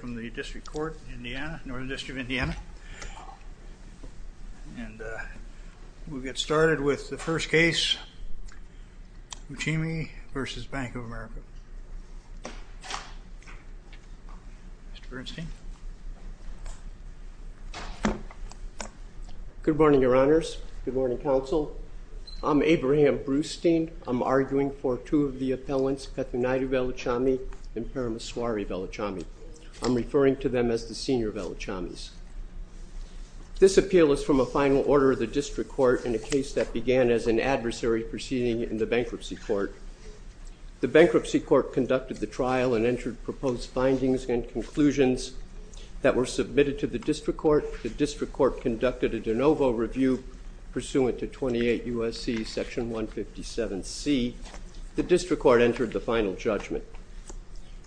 from the District Court, Indiana, Northern District of Indiana, and we'll get started with the first case, Uchimi v. Bank of America. Mr. Bernstein. Good morning, Your Honors. Good morning, Counsel. I'm Abraham Brustein. I'm arguing for two of the appellants, Petunadi Veluchamy and Parameswari Veluchamy. I'm referring to them as the senior Veluchamis. This appeal is from a final order of the District Court in a case that began as an adversary proceeding in the Bankruptcy Court. The Bankruptcy Court conducted the trial and entered proposed findings and conclusions that were submitted to the District Court conducted a de novo review pursuant to 28 U.S.C. Section 157C. The District Court entered the final judgment.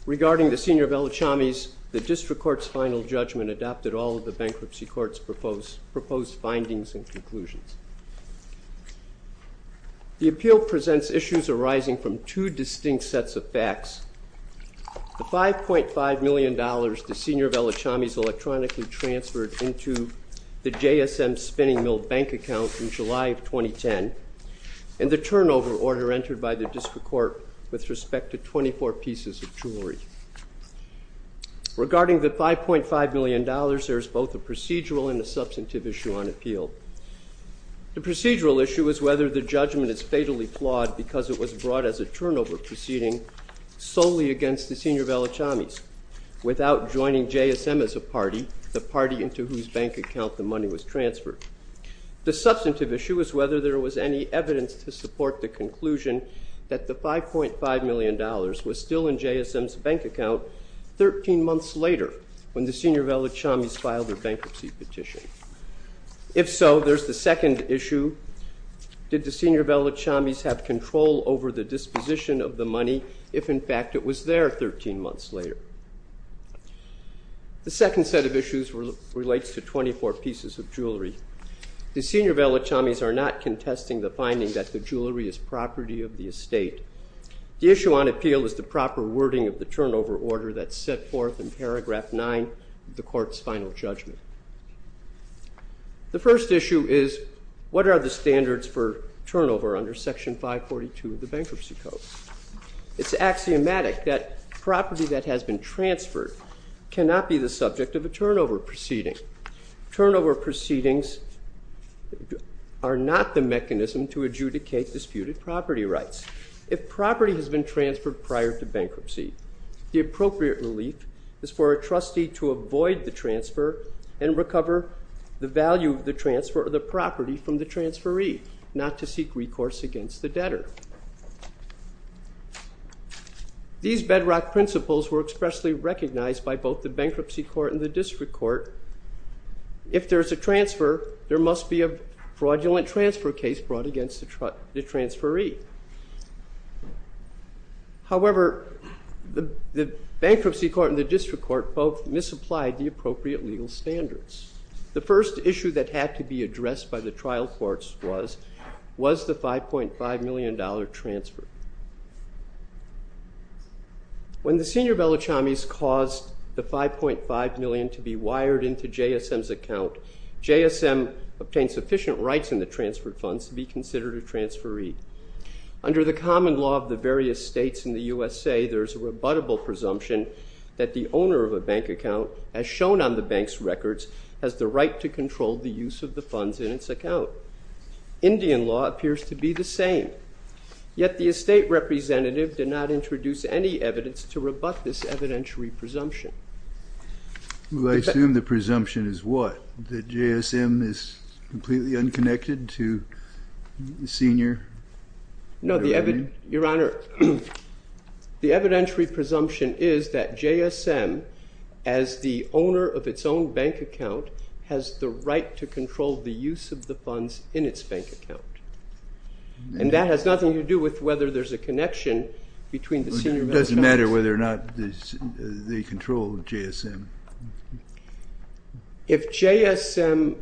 Regarding the senior Veluchamis, the District Court's final judgment adopted all of the Bankruptcy Court's proposed findings and conclusions. The appeal presents issues arising from two distinct sets of facts. The $5.5 million the senior Veluchamis, the JSM spinning mill bank account from July of 2010, and the turnover order entered by the District Court with respect to 24 pieces of jewelry. Regarding the $5.5 million, there is both a procedural and a substantive issue on appeal. The procedural issue is whether the judgment is fatally flawed because it was brought as a turnover proceeding solely against the senior Veluchamis without joining JSM as a party, the party into whose bank account the money was transferred. The substantive issue is whether there was any evidence to support the conclusion that the $5.5 million was still in JSM's bank account 13 months later when the senior Veluchamis filed their bankruptcy petition. If so, there's the second issue, did the senior Veluchamis have control over the disposition of the money if in fact it was there 13 months later? The second set of issues relates to 24 pieces of jewelry. The senior Veluchamis are not contesting the finding that the jewelry is property of the estate. The issue on appeal is the proper wording of the turnover order that's set forth in paragraph 9 of the court's final judgment. The first issue is what are the standards for turnover under section 542 of the bankruptcy code? It's axiomatic that property that has been transferred cannot be the subject of a turnover proceeding. Turnover proceedings are not the mechanism to adjudicate disputed property rights. If property has been transferred prior to bankruptcy, the appropriate relief is for a trustee to avoid the transfer and recover the value of the transfer of the property from the transferee, not to seek recourse against the debtor. These bedrock principles were expressly recognized by both the bankruptcy court and the district court. If there's a transfer, there must be a fraudulent transfer case brought against the transferee. However, the bankruptcy court and the district court both misapplied the appropriate legal standards. The first issue that had to be addressed by the trial courts was, was the $5.5 million transfer. When the senior Veluchamis caused the $5.5 million to be wired into JSM's account, JSM obtained sufficient rights in the transfer funds to be considered a transferee. Under the common law of the various states in the U.S.A., there's a rebuttable presumption that the owner of a bank account, as shown on the bank's records, has the right to control the use of the funds in its account. Indian law appears to be the same. Yet the estate representative did not introduce any evidence to rebut this evidentiary presumption. Well, I assume the presumption is what? That JSM is completely unconnected to the senior Veluchamis? No, Your Honor, the evidentiary presumption is that JSM, as the owner of its own bank account, has the right to control the use of the funds in its bank account. And that has nothing to do with whether there's a connection between the senior Veluchamis. It doesn't matter whether or not they control JSM. If JSM,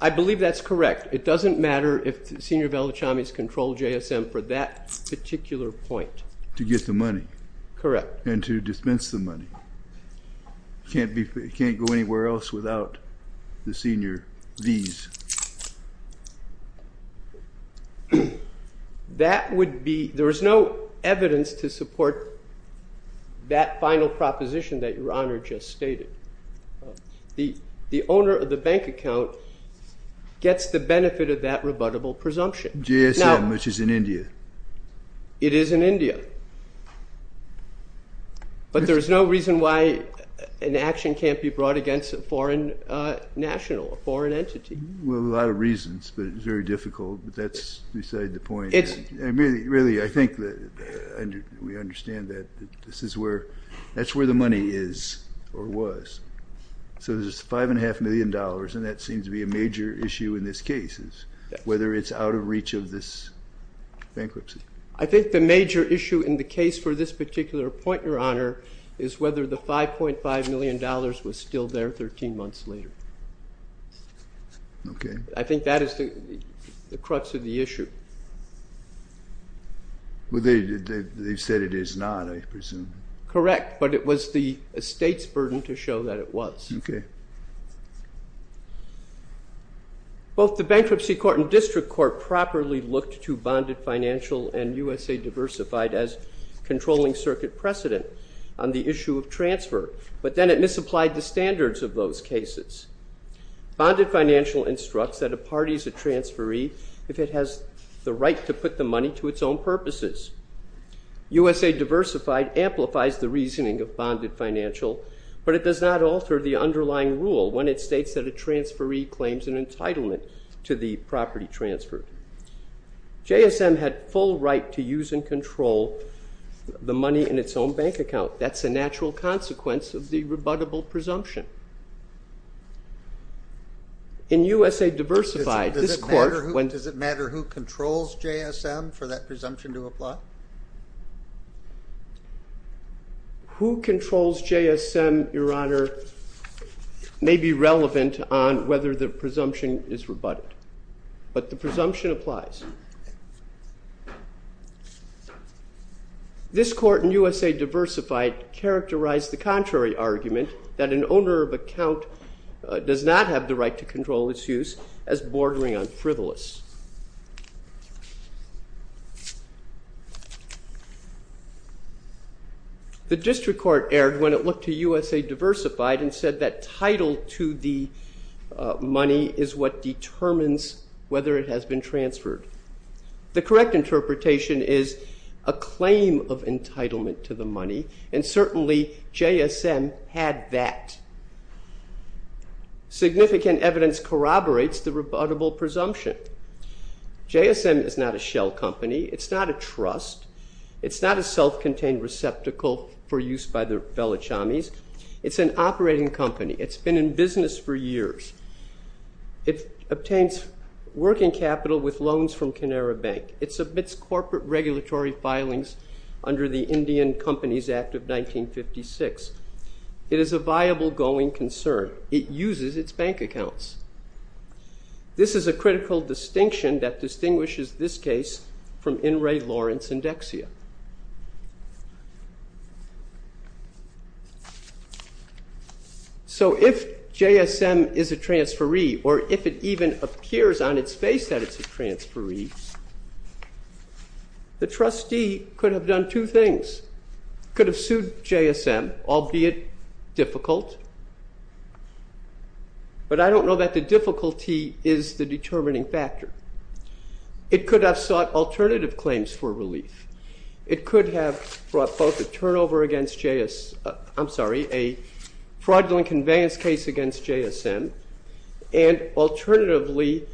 I believe that's correct. It doesn't always control JSM for that particular point. To get the money. Correct. And to dispense the money. It can't go anywhere else without the senior V's. There is no evidence to support that final proposition that Your Honor just stated. The owner of the bank account gets the benefit of that rebuttable presumption. JSM, which is in India. It is in India. But there's no reason why an action can't be brought against a foreign national, a foreign entity. Well, a lot of reasons, but it's very difficult. That's beside the point. Really, I think that we understand that this is where, that's where the money is or was. So there's five and a half million dollars, and that seems to be a major issue in this case, whether it's out of reach of this bankruptcy. I think the major issue in the case for this particular point, Your Honor, is whether the 5.5 million dollars was still there 13 months later. I think that is the crux of the issue. They said it is not, I presume. Correct, but it was the estate's burden to show that it was. Both the Bankruptcy Court and District Court properly looked to Bonded Financial and USA Diversified as controlling circuit precedent on the issue of transfer, but then it misapplied the standards of those cases. Bonded Financial instructs that a party is a transferee if it has the right to put the money to its own purposes. USA Diversified amplifies the reasoning of Bonded Financial, but it does not alter the underlying rule when it states that a transferee claims an entitlement to the property transferred. JSM had full right to use and control the money in its own bank account. That's a natural consequence of the rebuttable presumption. In USA Diversified, this Court, does it matter who controls JSM for that presumption to apply? Who controls JSM, Your Honor, may be relevant on whether the presumption is rebutted, but the presumption applies. This Court in USA Diversified characterized the contrary argument that an owner of account does not have the right to control its use as bordering on frivolous. The District Court erred when it looked to USA Diversified and said that title to the money. The correct interpretation is a claim of entitlement to the money, and certainly JSM had that. Significant evidence corroborates the rebuttable presumption. JSM is not a shell company. It's not a trust. It's not a self-contained receptacle for use by the Velichamis. It's an operating company. It's been in business for years. It obtains working capital with loans from Canara Bank. It submits corporate regulatory filings under the Indian Companies Act of 1956. It is a viable going concern. It uses its bank accounts. This is a critical distinction that distinguishes this case from In re Lawrence and Dexia. So if JSM is a transferee, or if it even appears on its face that it's a transferee, the trustee could have done two things. It could have sued JSM, albeit difficult, but I don't know that the difficulty is the determining factor. It could have sought alternative claims for a conveyance case against JSM, and alternatively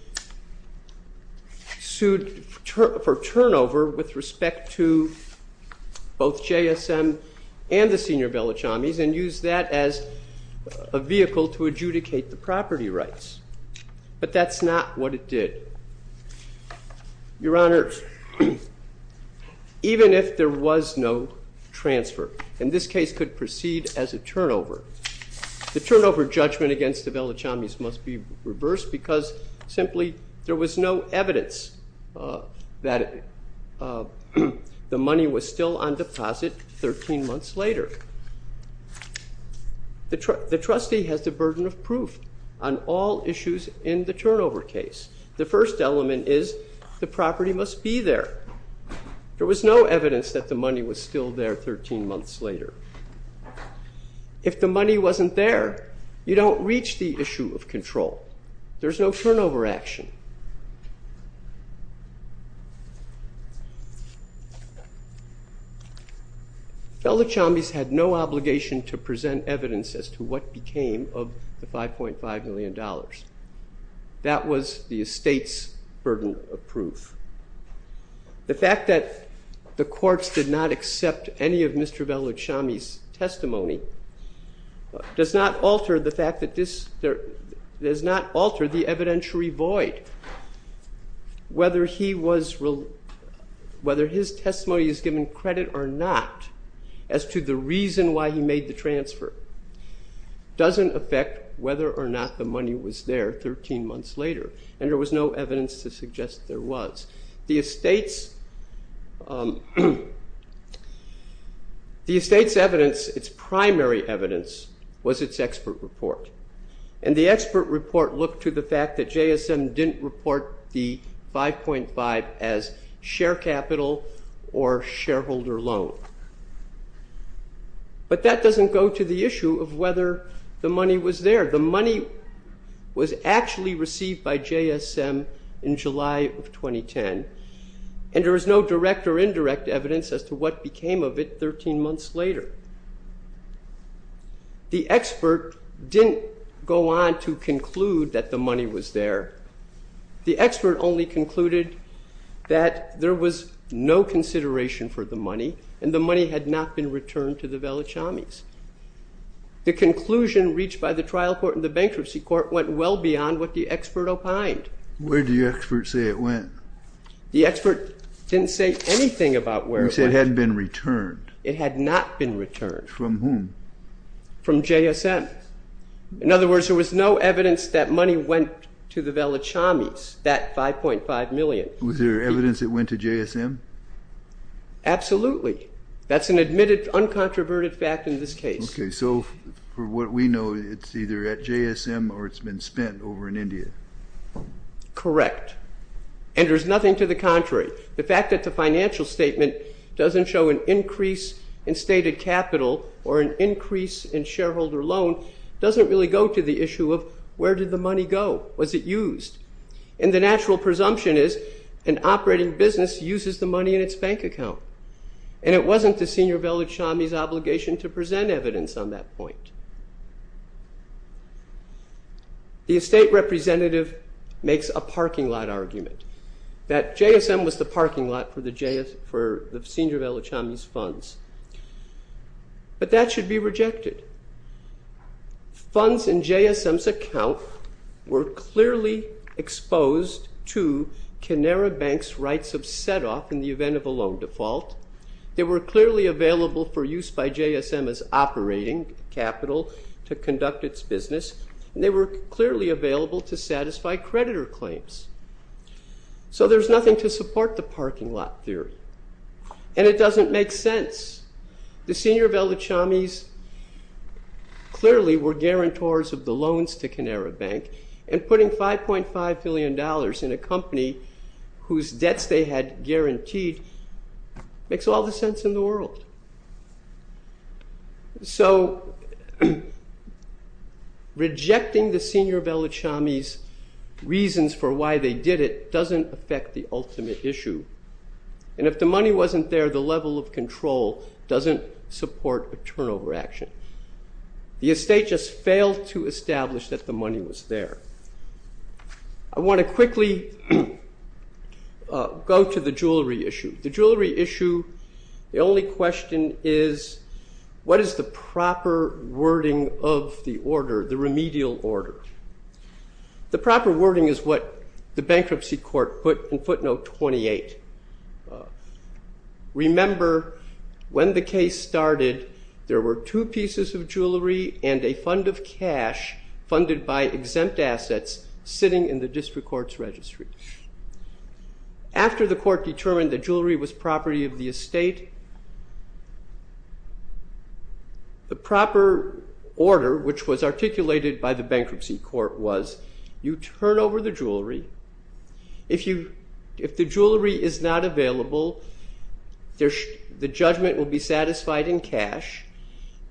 sued for turnover with respect to both JSM and the senior Velichamis, and used that as a vehicle to adjudicate the property rights. But that's not what it did. Your Honor, even if there was no transfer, and this case could proceed as a turnover, the turnover judgment against the Velichamis must be reversed because simply there was no evidence that the money was still on deposit 13 months later. The trustee has the burden of proof on all issues in the turnover case. The first element is the property must be there. There was no evidence that the money was still there 13 months later. If the money wasn't there, you don't reach the issue of control. There's no turnover action. Velichamis had no obligation to present evidence as to what became of the $5.5 million. That was the estate's burden of proof. The fact that the courts did not accept any of Mr. Velichamis' testimony does not alter the evidentiary void. Whether his testimony is given credit or not as to the reason why he made the transfer doesn't affect whether or not the money was there 13 months later, and there was no evidence to suggest there was. The estate's evidence, its primary evidence was its expert report, and the expert report looked to the fact that JSM didn't report the $5.5 million as share capital or shareholder loan, but that doesn't go to the issue of whether the money was there. The money was actually received by JSM in July of 2010, and there was no direct or indirect evidence as to what became of it 13 months later. The expert didn't go on to conclude that the money was there. The expert only concluded that there was no consideration for the money, and the money had not been returned to the Velichamis. The conclusion reached by the trial court and the bankruptcy court went well beyond what the expert opined. Where did the expert say it went? The expert didn't say anything about where it went. You said it hadn't been returned. It had not been returned. From whom? From JSM. In other words, there was no evidence that money went to the Velichamis, that $5.5 million. Was there evidence it went to JSM? Absolutely. That's an admitted uncontroverted fact in this case. Okay, so from what we know, it's either at JSM or it's correct, and there's nothing to the contrary. The fact that the financial statement doesn't show an increase in stated capital or an increase in shareholder loan doesn't really go to the issue of where did the money go? Was it used? And the natural presumption is an operating business uses the money in its bank account, and it wasn't the senior Velichamis' obligation to present evidence on that point. The estate representative makes a parking statement. Parking lot argument. That JSM was the parking lot for the senior Velichamis' funds. But that should be rejected. Funds in JSM's account were clearly exposed to Canara Bank's rights of set-off in the event of a loan default. They were clearly available for use by JSM as operating capital to conduct its business, and they were clearly available to satisfy creditor claims. So there's nothing to support the parking lot theory, and it doesn't make sense. The senior Velichamis clearly were guarantors of the loans to Canara Bank, and putting $5.5 billion in a company whose debts they had guaranteed makes all the sense in the world. So rejecting the senior Velichamis' obligation to present evidence on the reasons for why they did it doesn't affect the ultimate issue. And if the money wasn't there, the level of control doesn't support a turnover action. The estate just failed to establish that the money was there. I want to quickly go to the jewelry issue. The jewelry issue, the only question is, what is the proper wording of the order, the remedial order? The proper wording is what the bankruptcy court put in footnote 28. Remember, when the case started, there were two pieces of jewelry and a fund of cash funded by exempt assets sitting in the district court's registry. After the court determined that jewelry was property of the estate, the proper order, which was articulated by the bankruptcy court, was you turn over the jewelry. If the jewelry is not available, the judgment will be satisfied in cash,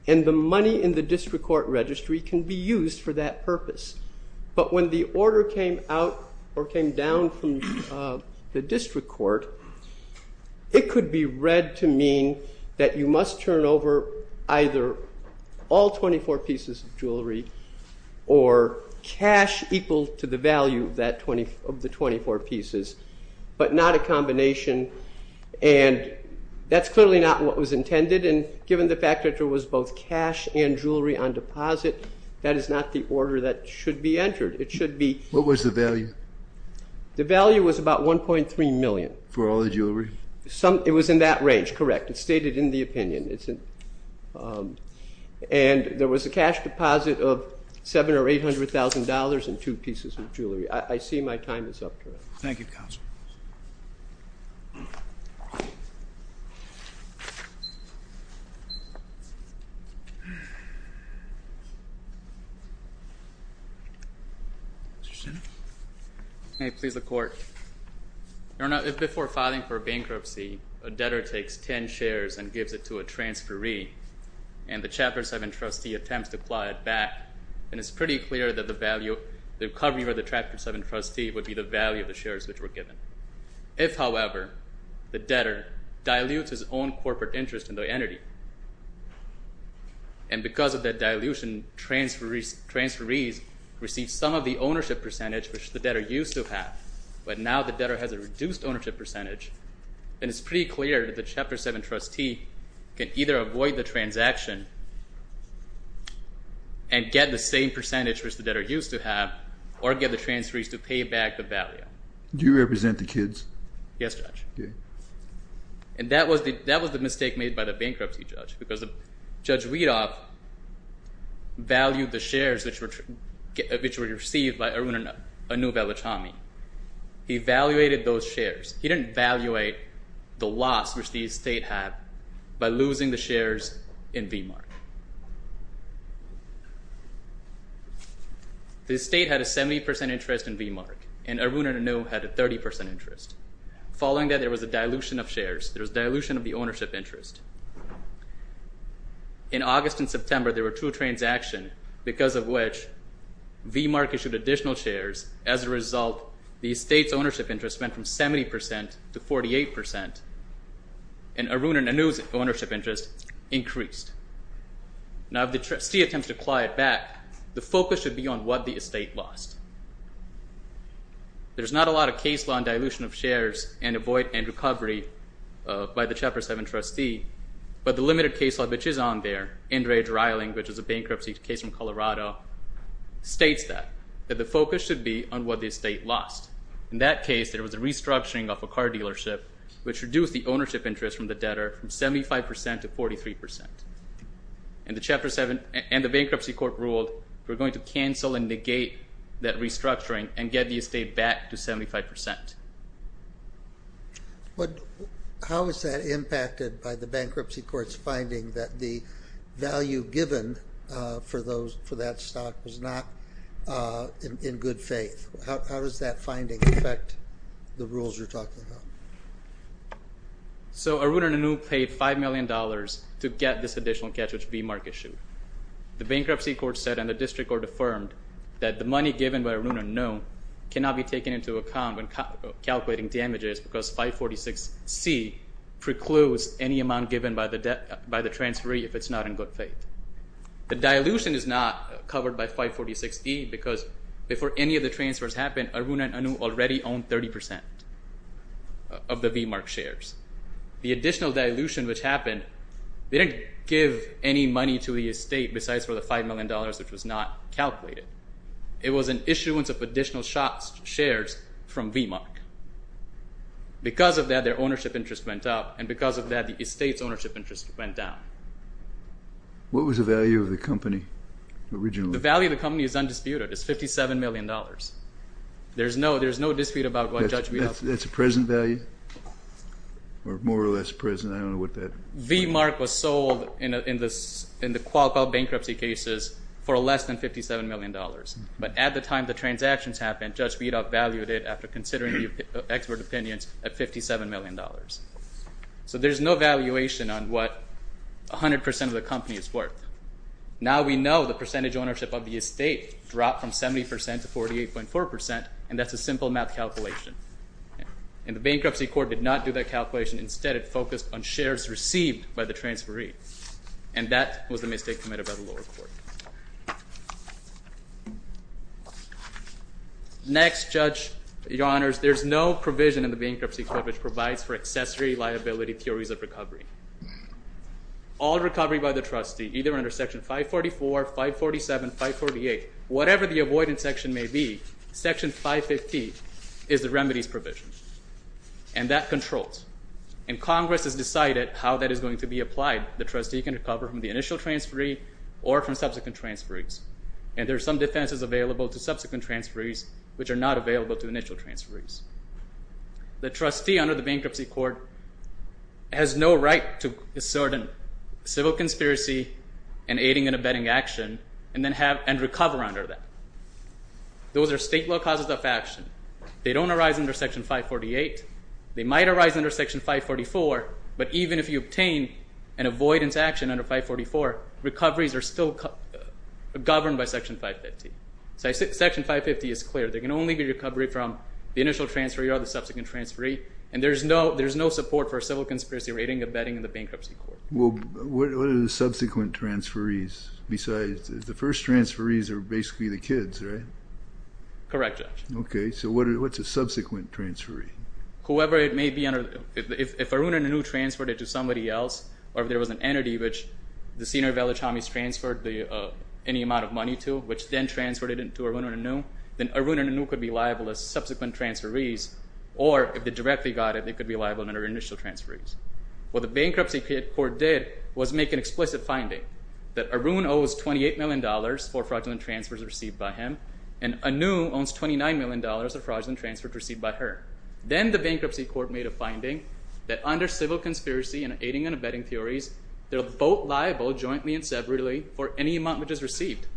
and the money in the district court registry can be used for that purpose. But when the order came out or came down from the district court, it could be read to mean that you must turn over either all 24 pieces of jewelry or cash equal to the value of the 24 pieces, but not a combination. And that's clearly not what was intended, and given the fact that there was both cash and jewelry on deposit, that is not the order that should be entered. It should be... What was the value? The value was about $1.3 million. For all the pieces of jewelry? It was in that range, correct. It's stated in the opinion. And there was a cash deposit of $700,000 or $800,000 in two pieces of jewelry. I see my time is up. Thank you, counsel. Mr. Senate? May it please the court. Your Honor, before filing for bankruptcy, a debtor takes 10 shares and gives it to a transferee, and the Chapter 7 trustee attempts to apply it back, and it's pretty clear that the value, the recovery of the Chapter 7 trustee would be the value of the shares which were given. If, however, the debtor dilutes his own corporate interest in the entity, and because of that dilution, transferees receive some of the ownership percentage which the debtor used to have, but now the debtor has a reduced ownership percentage, then it's pretty clear that the Chapter 7 trustee can either avoid the transaction and get the same percentage which the debtor used to have, or get the transferees to pay back the value. Do you represent the kids? Yes, Judge. And that was the mistake made by the bankruptcy judge, because Judge Weedoff valued the shares which were received by Arun and Anu Velichamy. He evaluated those shares. He didn't evaluate the loss which the estate had by losing the shares in V-Mark. The estate had a 70% interest in V-Mark, and Arun and Anu had a 30% interest. Following that, there was dilution of the ownership interest. In August and September, there were two transactions, because of which V-Mark issued additional shares. As a result, the estate's ownership interest went from 70% to 48%, and Arun and Anu's ownership interest increased. Now if the trustee attempts to apply it back, the focus should be on what the estate lost. There's not a lot of case law on dilution of shares and avoid and recovery by the Chapter 7 trustee, but the limited case law which is on there, Inderaj Riling, which is a bankruptcy case from Colorado, states that, that the focus should be on what the estate lost. In that case, there was a restructuring of a car dealership, which reduced the ownership interest from the debtor from 75% to 43%. And the bankruptcy court ruled, we're going to cancel and negate that restructuring and get the estate back to 75%. How is that impacted by the bankruptcy court's finding that the value given for that stock was not in good faith? How does that finding affect the rules you're talking about? So Arun and Anu paid $5 million to get this additional catch, which V-Mark issued. The money given by Arun and Anu cannot be taken into account when calculating damages because 546C precludes any amount given by the transferee if it's not in good faith. The dilution is not covered by 546E because before any of the transfers happened, Arun and Anu already owned 30% of the V-Mark shares. The additional dilution which happened, they didn't give any money to the estate besides for the $5 million, which was not calculated. It was an issuance of additional shares from V-Mark. Because of that, their ownership interest went up, and because of that, the estate's ownership interest went down. What was the value of the company originally? The value of the company is undisputed. It's $57 million. There's no dispute about what Judge Wieland said. That's a present value? Or more or less present? I don't know what that is. V-Mark was sold in the Qualcomm bankruptcy cases for less than $57 million, but at the time the transactions happened, Judge Wiedok valued it after considering expert opinions at $57 million. So there's no valuation on what 100% of the company is worth. Now we know the percentage ownership of the estate dropped from 70% to 48.4%, and that's a simple math calculation. And the bankruptcy court did not do that calculation. Instead, it focused on shares received by the transferee, and that was a mistake committed by the lower court. Next, Judge, your honors, there's no provision in the bankruptcy court which provides for accessory liability theories of recovery. All recovery by the trustee, either under Section 544, 547, 548, whatever the avoidance section may be, Section 550 is the remedies provision, and that controls. And Congress has decided how that is going to be applied. The trustee can recover from the initial transferee or from subsequent transferees. And there are some defenses available to subsequent transferees which are not available to initial transferees. The trustee under the bankruptcy court has no right to assert a civil conspiracy and aiding and abetting action and recover under that. Those are state law causes of action. They don't arise under Section 548. They might arise under Section 544, but even if you obtain an avoidance action under 544, recoveries are still governed by Section 550. Section 550 is clear. There can only be recovery from the initial transferee or the subsequent transferee, and there's no support for a civil conspiracy or aiding and abetting in the bankruptcy court. Well, what are the subsequent transferees? Besides, the first transferees are basically the kids, right? Correct, Judge. Okay, so what's a subsequent transferee? Whoever it may be, if Arun and Anu transferred it to somebody else, or if there was an entity which the senior village homies transferred any amount of money to, which then transferred it to Arun and Anu, then Arun and Anu could be liable as subsequent transferees, or if they directly got it, they could be liable under initial transferees. What the bankruptcy court did was make an explicit finding that Arun owes $28 million for fraudulent transfers received by him, and Anu owns $29 million for fraudulent transfers received by her. Then the bankruptcy court made a finding that under civil conspiracy and aiding and abetting theories, they're both liable jointly and severally for any amount which is received.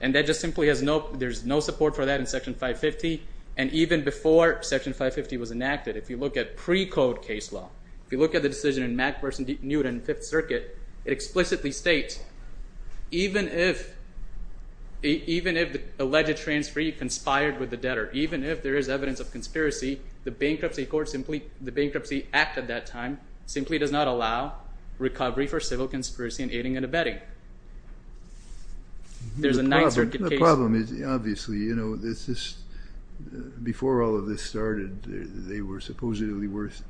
And that just simply has no, there's no support for that in Section 550, and even before Section 550 was enacted, if you look at precode case law, if you look at the decision in Mack v. Newton in Fifth Circuit, it explicitly states even if the alleged transferee conspired with the debtor, even if there is evidence of conspiracy, the bankruptcy act at that time simply does not allow recovery for civil conspiracy and aiding and abetting. There's a Ninth Circuit case law. The problem is obviously, you know, this is, before all of this started, they were supposedly worth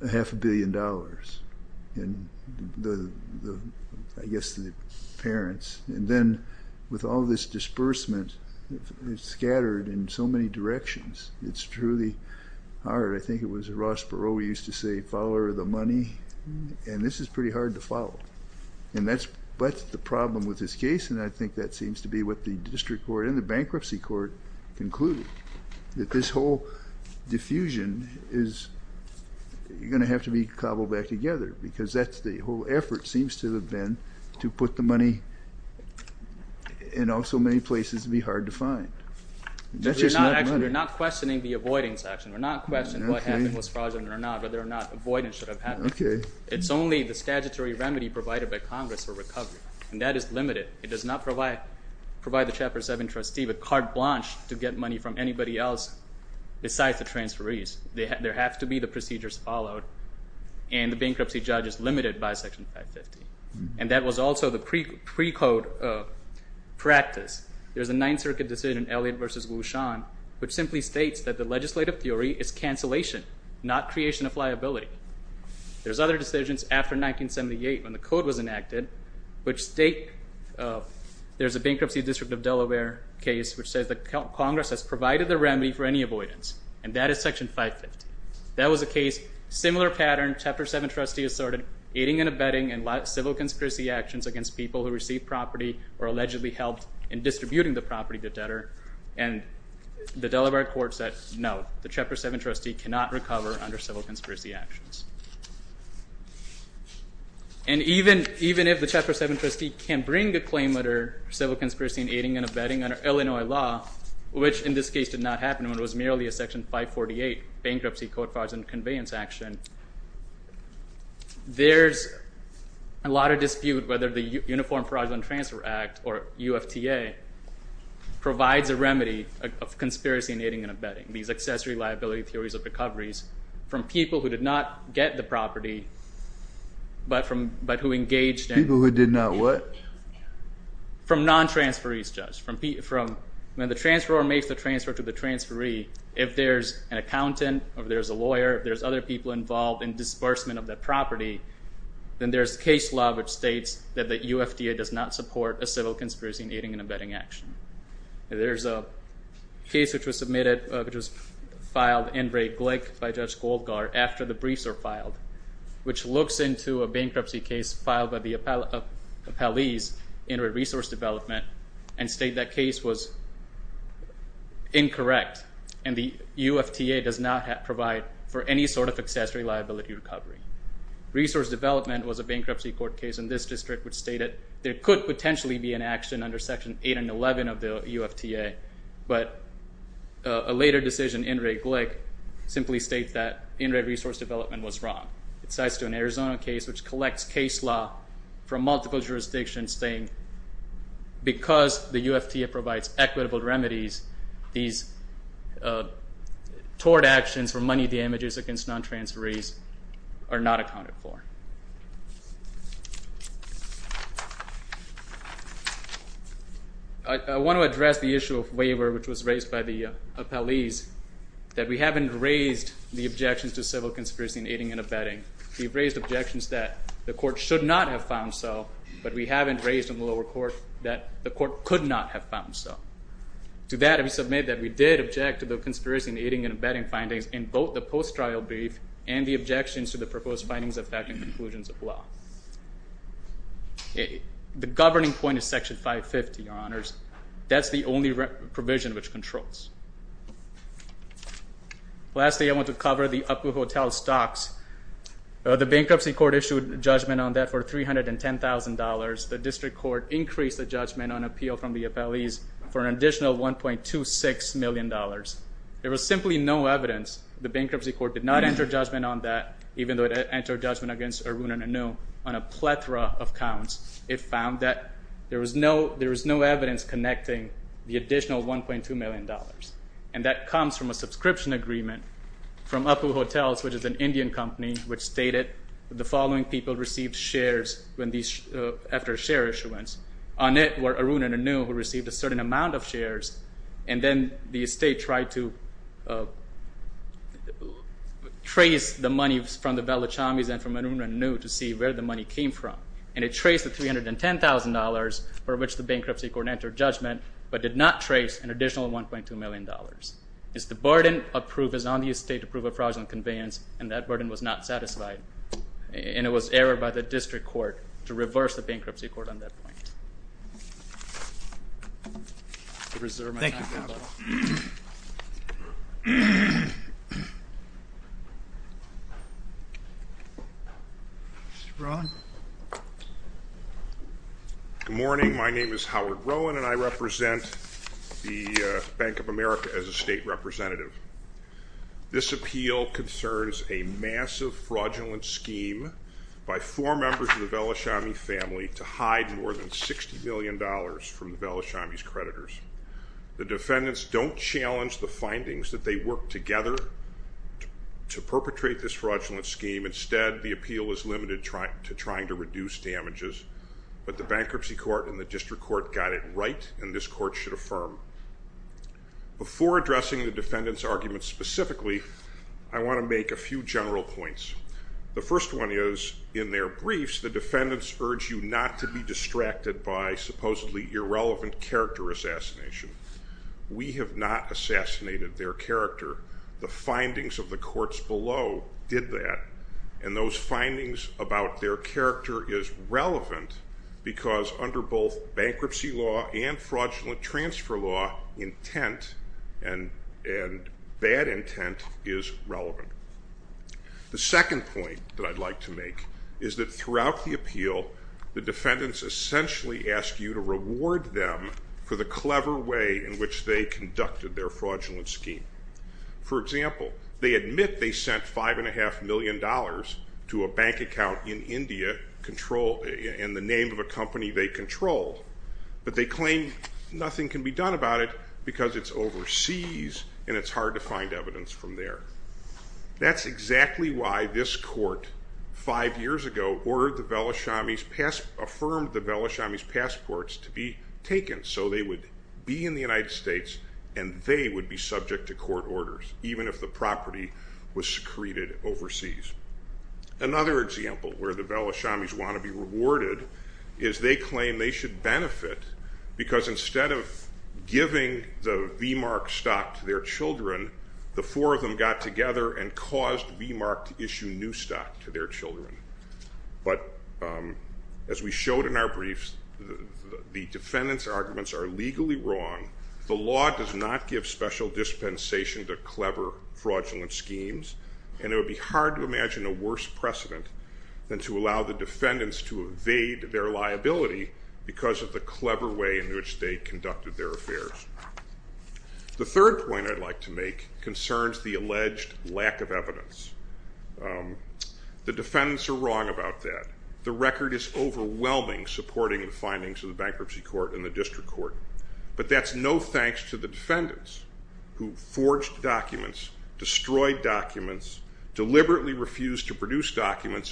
a half a billion dollars, and the, I guess the parents, and then with all this disbursement, it's scattered in so many directions, it's truly hard. I think it was Ross Perot used to say, follow the money, and this is pretty hard to follow. And that's the problem with this case, and I think that seems to be what the district court and the bankruptcy court concluded, that this whole diffusion is going to have to be cobbled back together, because that's the whole effort, seems to have been, to put the money in all so many places to be hard to find. You're not questioning the avoidance action. We're not questioning what happened was fraudulent or not, whether or not avoidance should have happened. Okay. It's only the statutory remedy provided by Congress for recovery, and that is limited. It does not provide the Chapter 7 trustee with carte blanche to get money from anybody else besides the transferees. There have to be the procedures followed, and the bankruptcy judge is limited by Section 550. And that was also the pre-code practice. There's a Ninth Circuit decision in Elliott v. Wushan, which simply states that the legislative theory is cancellation, not creation of liability. There's other decisions after 1978, when the there's a bankruptcy district of Delaware case, which says that Congress has provided the remedy for any avoidance, and that is Section 550. That was a case, similar pattern, Chapter 7 trustee asserted aiding and abetting and civil conspiracy actions against people who received property or allegedly helped in distributing the property to debtor, and the Delaware court said, no, the Chapter 7 trustee cannot recover under civil conspiracy actions. And even if the Chapter 7 trustee can bring a claim under civil conspiracy aiding and abetting under Illinois law, which in this case did not happen, when it was merely a Section 548 bankruptcy code fraudulent conveyance action, there's a lot of dispute whether the Uniform Fraudulent Transfer Act, or UFTA, provides a remedy of conspiracy aiding and abetting, these accessory liability theories of recoveries, from people who did not get the property, but from, but who engaged in people who did not what? From non-transferees, Judge. When the transferor makes the transfer to the transferee, if there's an accountant, or there's a lawyer, if there's other people involved in disbursement of that property, then there's case law which states that the UFTA does not support a civil conspiracy aiding and abetting action. There's a case which was submitted, which was filed in Ray Glick by Judge Goldgaard after the briefs were filed, which looks into a bankruptcy case filed by the appellees in Ray Resource Development, and state that case was incorrect, and the UFTA does not provide for any sort of accessory liability recovery. Resource Development was a bankruptcy court case in this district, which stated there could potentially be an action under Section 8 and 11 of the UFTA, but a later decision in Ray Glick simply states that in Ray Resource Development was wrong. It cites an Arizona case which collects case law from multiple jurisdictions saying because the UFTA provides equitable remedies, these tort actions for I want to address the issue of waiver, which was raised by the appellees, that we haven't raised the objections to civil conspiracy aiding and abetting. We've raised objections that the court should not have found so, but we haven't raised in the lower court that the court could not have found so. To that, I submit that we did object to the conspiracy aiding and abetting findings in both the post-trial brief and the objections to the proposed findings affecting conclusions of law. The governing point is Section 550, Your Honors. That's the only provision which controls. Lastly, I want to cover the Upwood Hotel stocks. The bankruptcy court issued judgment on that for $310,000. The district court increased the judgment on appeal from the appellees for an additional $1.26 million. There was simply no evidence. The bankruptcy court did not enter judgment on that, even though it entered judgment against Arun and Anu on a plethora of counts. It found that there was no evidence connecting the additional $1.2 million. That comes from a subscription agreement from Upwood Hotels, which is an Indian company, which stated the following people received shares after a share issuance. On it were Arun and Anu, who received a certain amount of shares, and then the estate tried to trace the money from the Velachamis and from Arun and Anu to see where the money came from. It traced the $310,000 for which the bankruptcy court entered judgment, but did not trace an additional $1.2 million. The burden of proof is on the estate to prove a fraudulent conveyance, and that burden was not satisfied. It was errored by the district court to reverse the bankruptcy court on that point. Good morning. My name is Howard Rowan, and I represent the Bank of America as a state attorney. I am here today with four members of the Velachami family to hide more than $60 million from the Velachami's creditors. The defendants don't challenge the findings that they worked together to perpetrate this fraudulent scheme. Instead, the appeal is limited to trying to reduce damages, but the bankruptcy court and the district court got it right, and this court should affirm. Before addressing the defendants' arguments specifically, I want to make a few general points. The first one is, in their briefs, the defendants urge you not to be distracted by supposedly irrelevant character assassination. We have not assassinated their character. The findings of the courts below did that, and those findings about their character is relevant because under both bankruptcy law and fraudulent transfer law, intent and bad intent is relevant. The second point that I'd like to make is that throughout the appeal, the defendants essentially ask you to reward them for the clever way in which they conducted their fraudulent scheme. For example, they admit they sent $5.5 million to a bank account in India in the name of a company they controlled, but they claim nothing can be done about it because it's overseas and it's hard to find evidence from there. That's exactly why this court five years ago affirmed the Belashami's passports to be taken so they would be in the United States and they would be subject to court orders, even if the property was secreted overseas. Another example where the Belashami's want to be rewarded is they claim they should benefit because instead of giving the V-Mark stock to their children, the four of them got together and caused V-Mark to issue new stock to their children. As we showed in our briefs, the defendants' arguments are legally wrong. The law does not give special dispensation to clever fraudulent schemes, and it would be hard to imagine a worse precedent than to allow the defendants to evade their liability because of the clever way in which they conducted their affairs. The third point I'd like to make concerns the alleged lack of evidence. The defendants are wrong about that. The record is overwhelming supporting the findings of the bankruptcy court and the district court, but that's no thanks to the defendants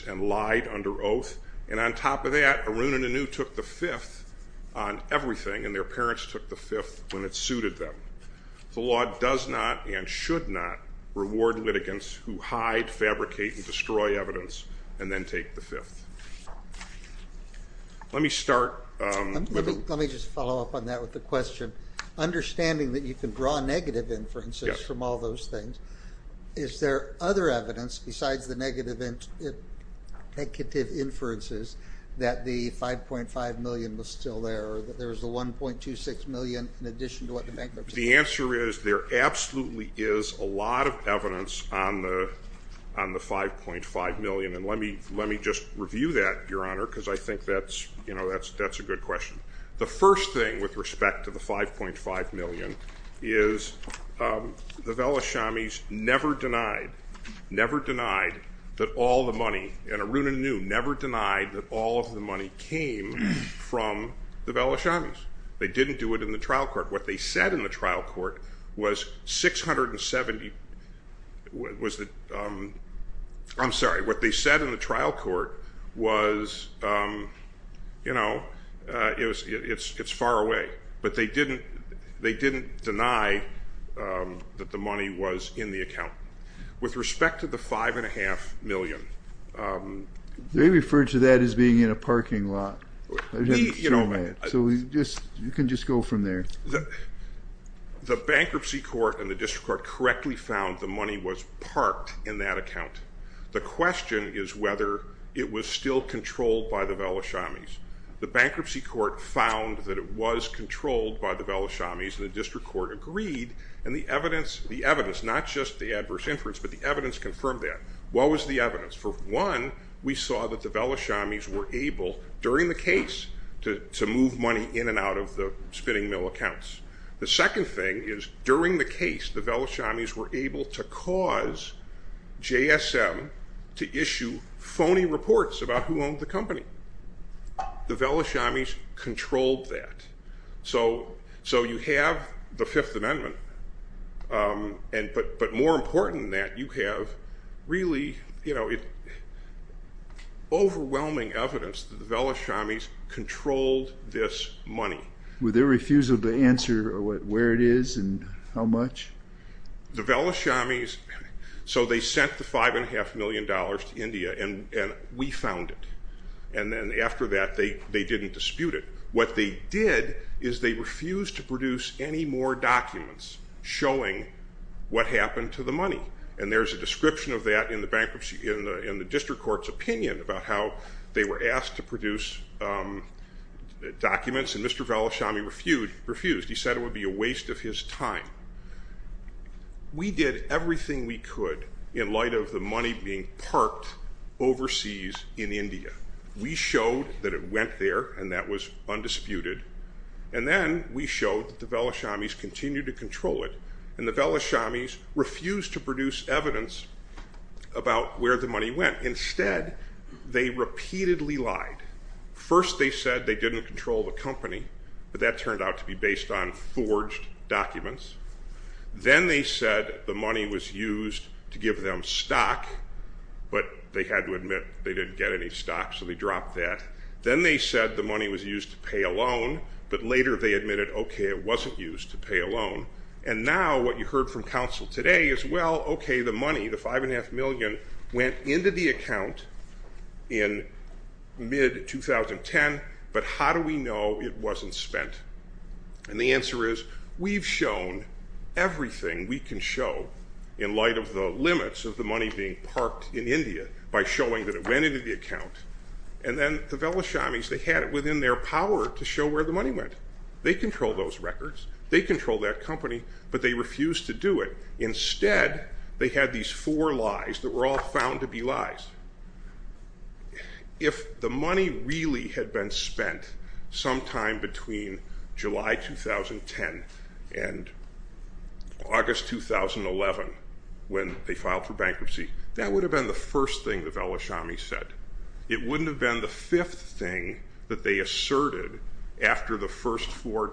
and lied under oath. And on top of that, Arun and Anu took the fifth on everything and their parents took the fifth when it suited them. The law does not and should not reward litigants who hide, fabricate, and destroy evidence and then take the fifth. Let me start. Let me just follow up on that with a question. Understanding that you can draw negative inferences from all those things, is there other evidence besides the negative inferences that the 5.5 million was still there or that there was the 1.26 million in addition to what the bankruptcy court said? The answer is there absolutely is a lot of evidence on the 5.5 million, and let me just review that, Your Honor, because I think that's a good question. The first thing with respect to the 5.5 million is the Velashamis never denied, never denied that all the money, and Arun and Anu never denied that all of the money came from the Velashamis. They didn't do it in the trial court. What they said in the trial court was 670, was the, I'm sorry, what they said in the trial court was, you know, it's far away, but they didn't deny that the money was in the account. With respect to the 5.5 million... They referred to that as being in a parking lot. So we just, you can just go from there. The bankruptcy court and the district court correctly found the money was parked in that account. The question is whether it was still controlled by the Velashamis. The bankruptcy court found that it was controlled by the Velashamis and the district court agreed, and the evidence, not just the adverse inference, but the evidence confirmed that. What was the evidence? For one, we saw that the Velashamis were able, during the case, to move money in and out of the spinning mill accounts. The second thing is during the case, the Velashamis were able to cause JSM to issue phony reports about who owned the company. The Velashamis controlled that. So you have the Fifth Amendment, but more important than that, you have really overwhelming evidence that the Velashamis controlled this money. Were they refused the answer of where it is and how much? The Velashamis, so they sent the 5.5 million dollars to India and we found it. And then after that they didn't dispute it. What they did is they refused to produce any more documents showing what happened to the money. And there's a description of that in the district court's opinion about how they were asked to produce documents and Mr. Velashami refused. He said it would be a waste of his time. We did everything we could in light of the money being parked overseas in India. We showed that it went there and that was undisputed. And then we showed that the Velashamis continued to control it and the Velashamis refused to produce evidence about where the money went. Instead, they repeatedly lied. First they said they didn't control the company, but that turned out to be based on forged documents. Then they said the money was used to give them stock, but they had to admit they didn't get any stock so they dropped that. Then they said the money was used to pay a loan, but later they admitted okay it wasn't used to pay a loan. And now what you heard from counsel today is well okay the money, the 5.5 million, went into the account in mid-2010, but how do we know it wasn't spent? And the answer is we've shown everything we can show in light of the limits of the money being parked in India by showing that it went into the account. And then the Velashamis, they had it within their power to show where the money went. They controlled those records. They controlled that company, but they refused to do it. Instead, they had these four lies that were all found to be lies. If the money really had been spent sometime between July 2010 and August 2011 when they filed for bankruptcy, that would have been the first thing the Velashamis said. It wouldn't have been the fifth thing that they asserted after the first four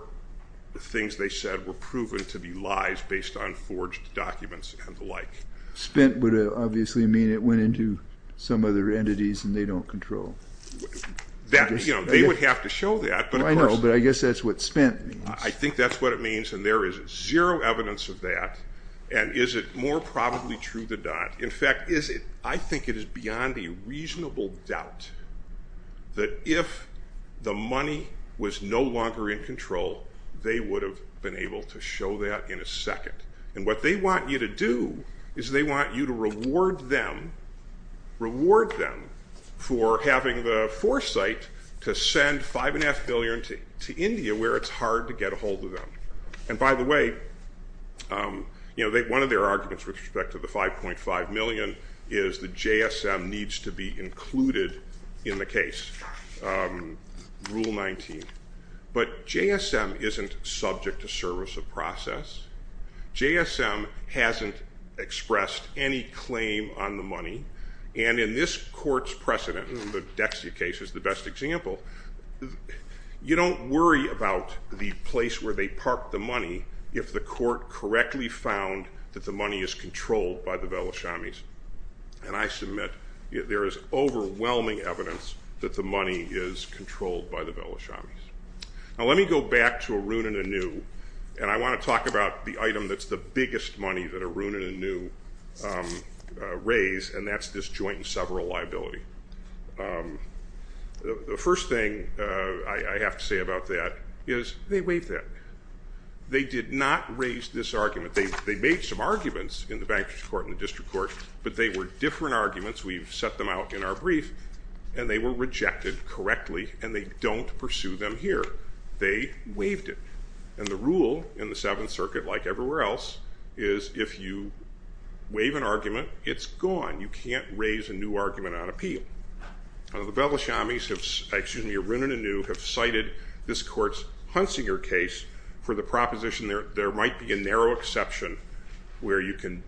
things they said were proven to be lies based on forged documents and the like. Spent would obviously mean it went into some other entities and they don't control. They would have to show that. I know, but I guess that's what spent means. I think that's what it means and there is zero evidence of that. And is it more probably true than not? In fact, I think it is beyond a reasonable doubt that if the money was no longer in control, they would have been able to show that in a second. And what they want you to do is they want you to reward them for having the foresight to send $5.5 billion to India where it's hard to get a hold of them. And by the way, one of their arguments with respect to the $5.5 million is that JSM needs to be included in the case, Rule 19. But JSM isn't subject to service of process. JSM hasn't expressed any claim on the money. And in this court's precedent, the Dexia case is the best example, you don't worry about the place where they parked the money if the court correctly found that the money is controlled by the Belashami's. And I submit there is overwhelming evidence that the money is controlled by the Belashami's. Now let me go back to Arun and Anu and I want to talk about the item that's the biggest money that Arun and Anu raise, and that's this joint and several liability. The first thing I have to say about that is they waived that. They did not raise this argument. They made some arguments in the bankruptcy court and the district court, but they were different arguments, we've set them out in our brief, and they were rejected correctly and they don't pursue them here. They waived it. And the rule in the Seventh Circuit, like everywhere else, is if you waive an argument, it's gone. You can't raise a new argument on appeal. The Belashami's, excuse me, Arun and Anu have cited this court's Hunsinger case for the proposition there might be a narrow exception where you can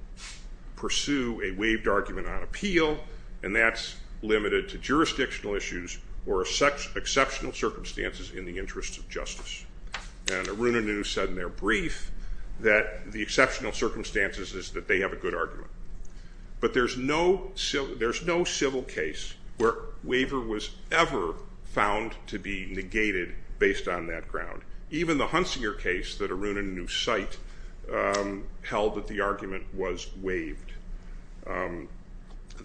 pursue a waived argument on appeal and that's limited to jurisdictional reasons. Arun and Anu said in their brief that the exceptional circumstances is that they have a good argument. But there's no civil case where waiver was ever found to be negated based on that ground. Even the Hunsinger case that Arun and Anu cite held that the argument was waived. The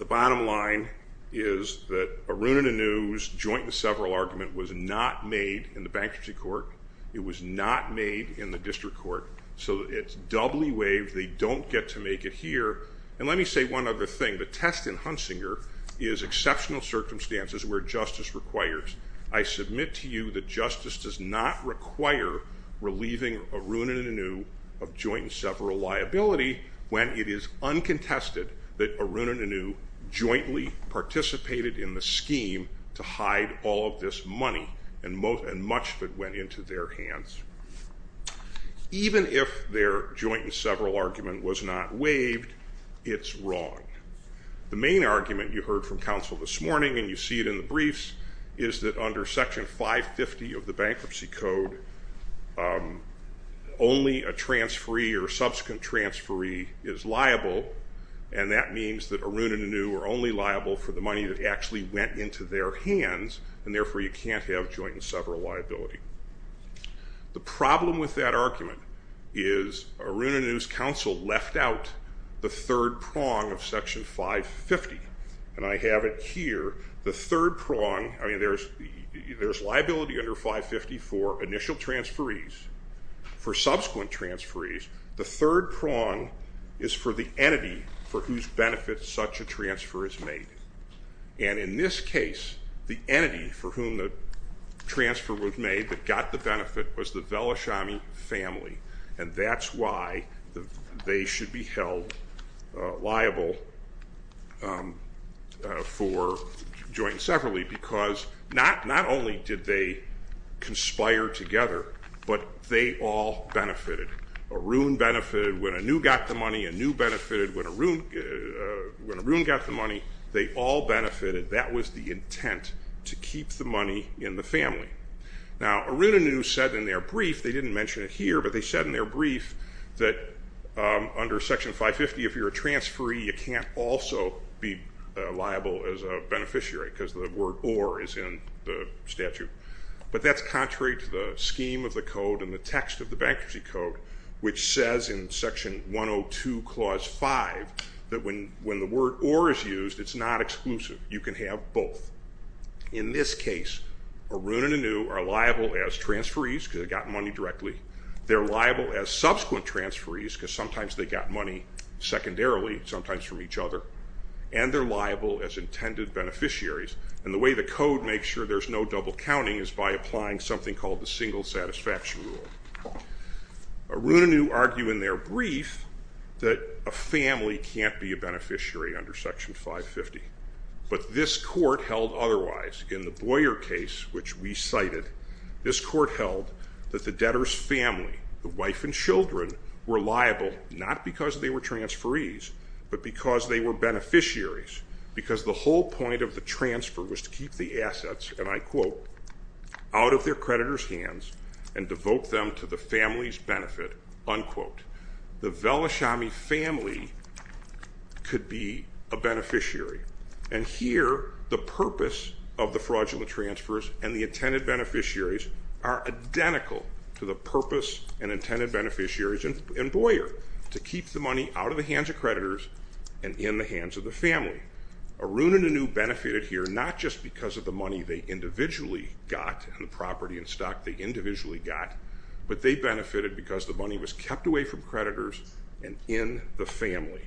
bottom line is that Arun and Anu's joint and several argument was not made in the bankruptcy court. It was not made in the district court. So it's doubly waived. They don't get to make it here. And let me say one other thing. The test in Hunsinger is exceptional circumstances where justice requires. I submit to you that justice does not require relieving Arun and Anu of joint and several liability when it is uncontested that Arun and Anu jointly participated in the scheme to hide all of this money and much of it went into their hands. Even if their joint and several argument was not waived, it's wrong. The main argument you heard from counsel this morning and you see it in the briefs is that under section 550 of the bankruptcy code only a transferee or subsequent transferee is liable and that means that Arun and Anu are only liable for the money that actually went into their hands and therefore you can't have joint and several liability. The problem with that argument is Arun and Anu's counsel left out the third prong of section 550. And I have it here. The third prong, I mean there's liability under 550 for initial transferees, for subsequent transferees. The third prong is for the entity for whose benefit such a transfer is made. And in this case the entity for whom the transfer was made that got the benefit was the Velashamy family and that's why they should be held liable for joint and subsequent transferees. Now Arun and Anu said in their brief, they didn't mention it here, but they said in their brief that under section 550 if you're a transferee you can't also be liable as a beneficiary because the word or is in the statute. But that's contrary to the scheme of the code and the text of the bankruptcy code which says in section 102 clause 5 that when the word or is used it's not exclusive. You can have both. In this case Arun and Anu are liable as transferees because they got money directly. They're liable as subsequent transferees because sometimes they got money secondarily, sometimes from each other, and they're liable as intended beneficiaries. And the way the code makes sure there's no double counting is by applying something called the single satisfaction rule. Arun and Anu argue in their brief that a family can't be a beneficiary under section 550, but this court held otherwise. In the Boyer case, which we cited, this court held that the debtor's family, the wife and children, were liable not because they were transferees, but because they were beneficiaries. Because the whole point of the transfer was to keep the assets, and I quote, out of their creditors hands and devote them to the family's benefit, unquote. The Velashami family could be a beneficiary. And here the purpose of fraudulent transfers and the intended beneficiaries are identical to the purpose and intended beneficiaries in Boyer, to keep the money out of the hands of creditors and in the hands of the family. Arun and Anu benefited here not just because of the money they individually got, the property and stock they individually got, but they benefited because the money was kept away from creditors and in the family.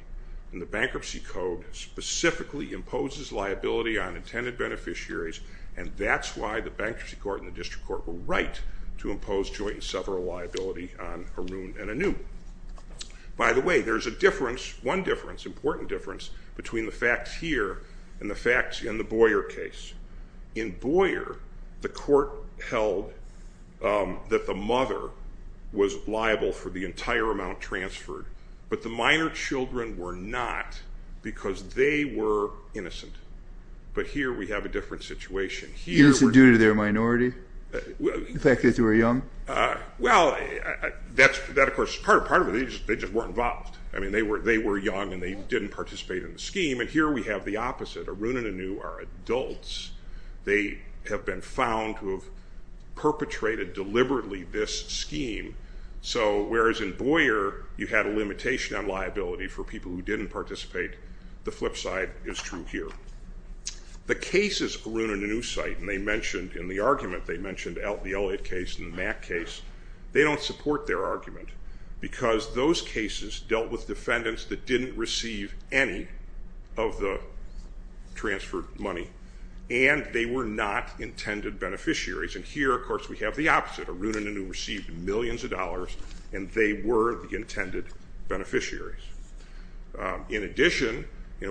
And the bankruptcy code specifically imposes liability on intended beneficiaries, and that's why the bankruptcy court and the district court were right to impose joint and several liability on Arun and Anu. By the way, there's a difference, one difference, important difference, between the facts here and the facts in the Boyer case. In Boyer, the court held that the mother was liable for the entire amount transferred, but the minor children were not because they were innocent. But here we have a different situation. Is it due to their minority? The fact that they were young? Well, that of course is part of it. They just weren't involved. I mean, they were young and they didn't participate in the scheme. And here we have the opposite. Arun and Anu are adults. They have been found to have limitation on liability for people who didn't participate. The flip side is true here. The cases Arun and Anu cite, and they mentioned in the argument, they mentioned the Elliott case and the Mack case. They don't support their argument because those cases dealt with defendants that didn't receive any of the transferred money, and they were not intended beneficiaries. And here, of course, we have the opposite. Arun and Anu received millions of dollars, and they were intended beneficiaries. In addition,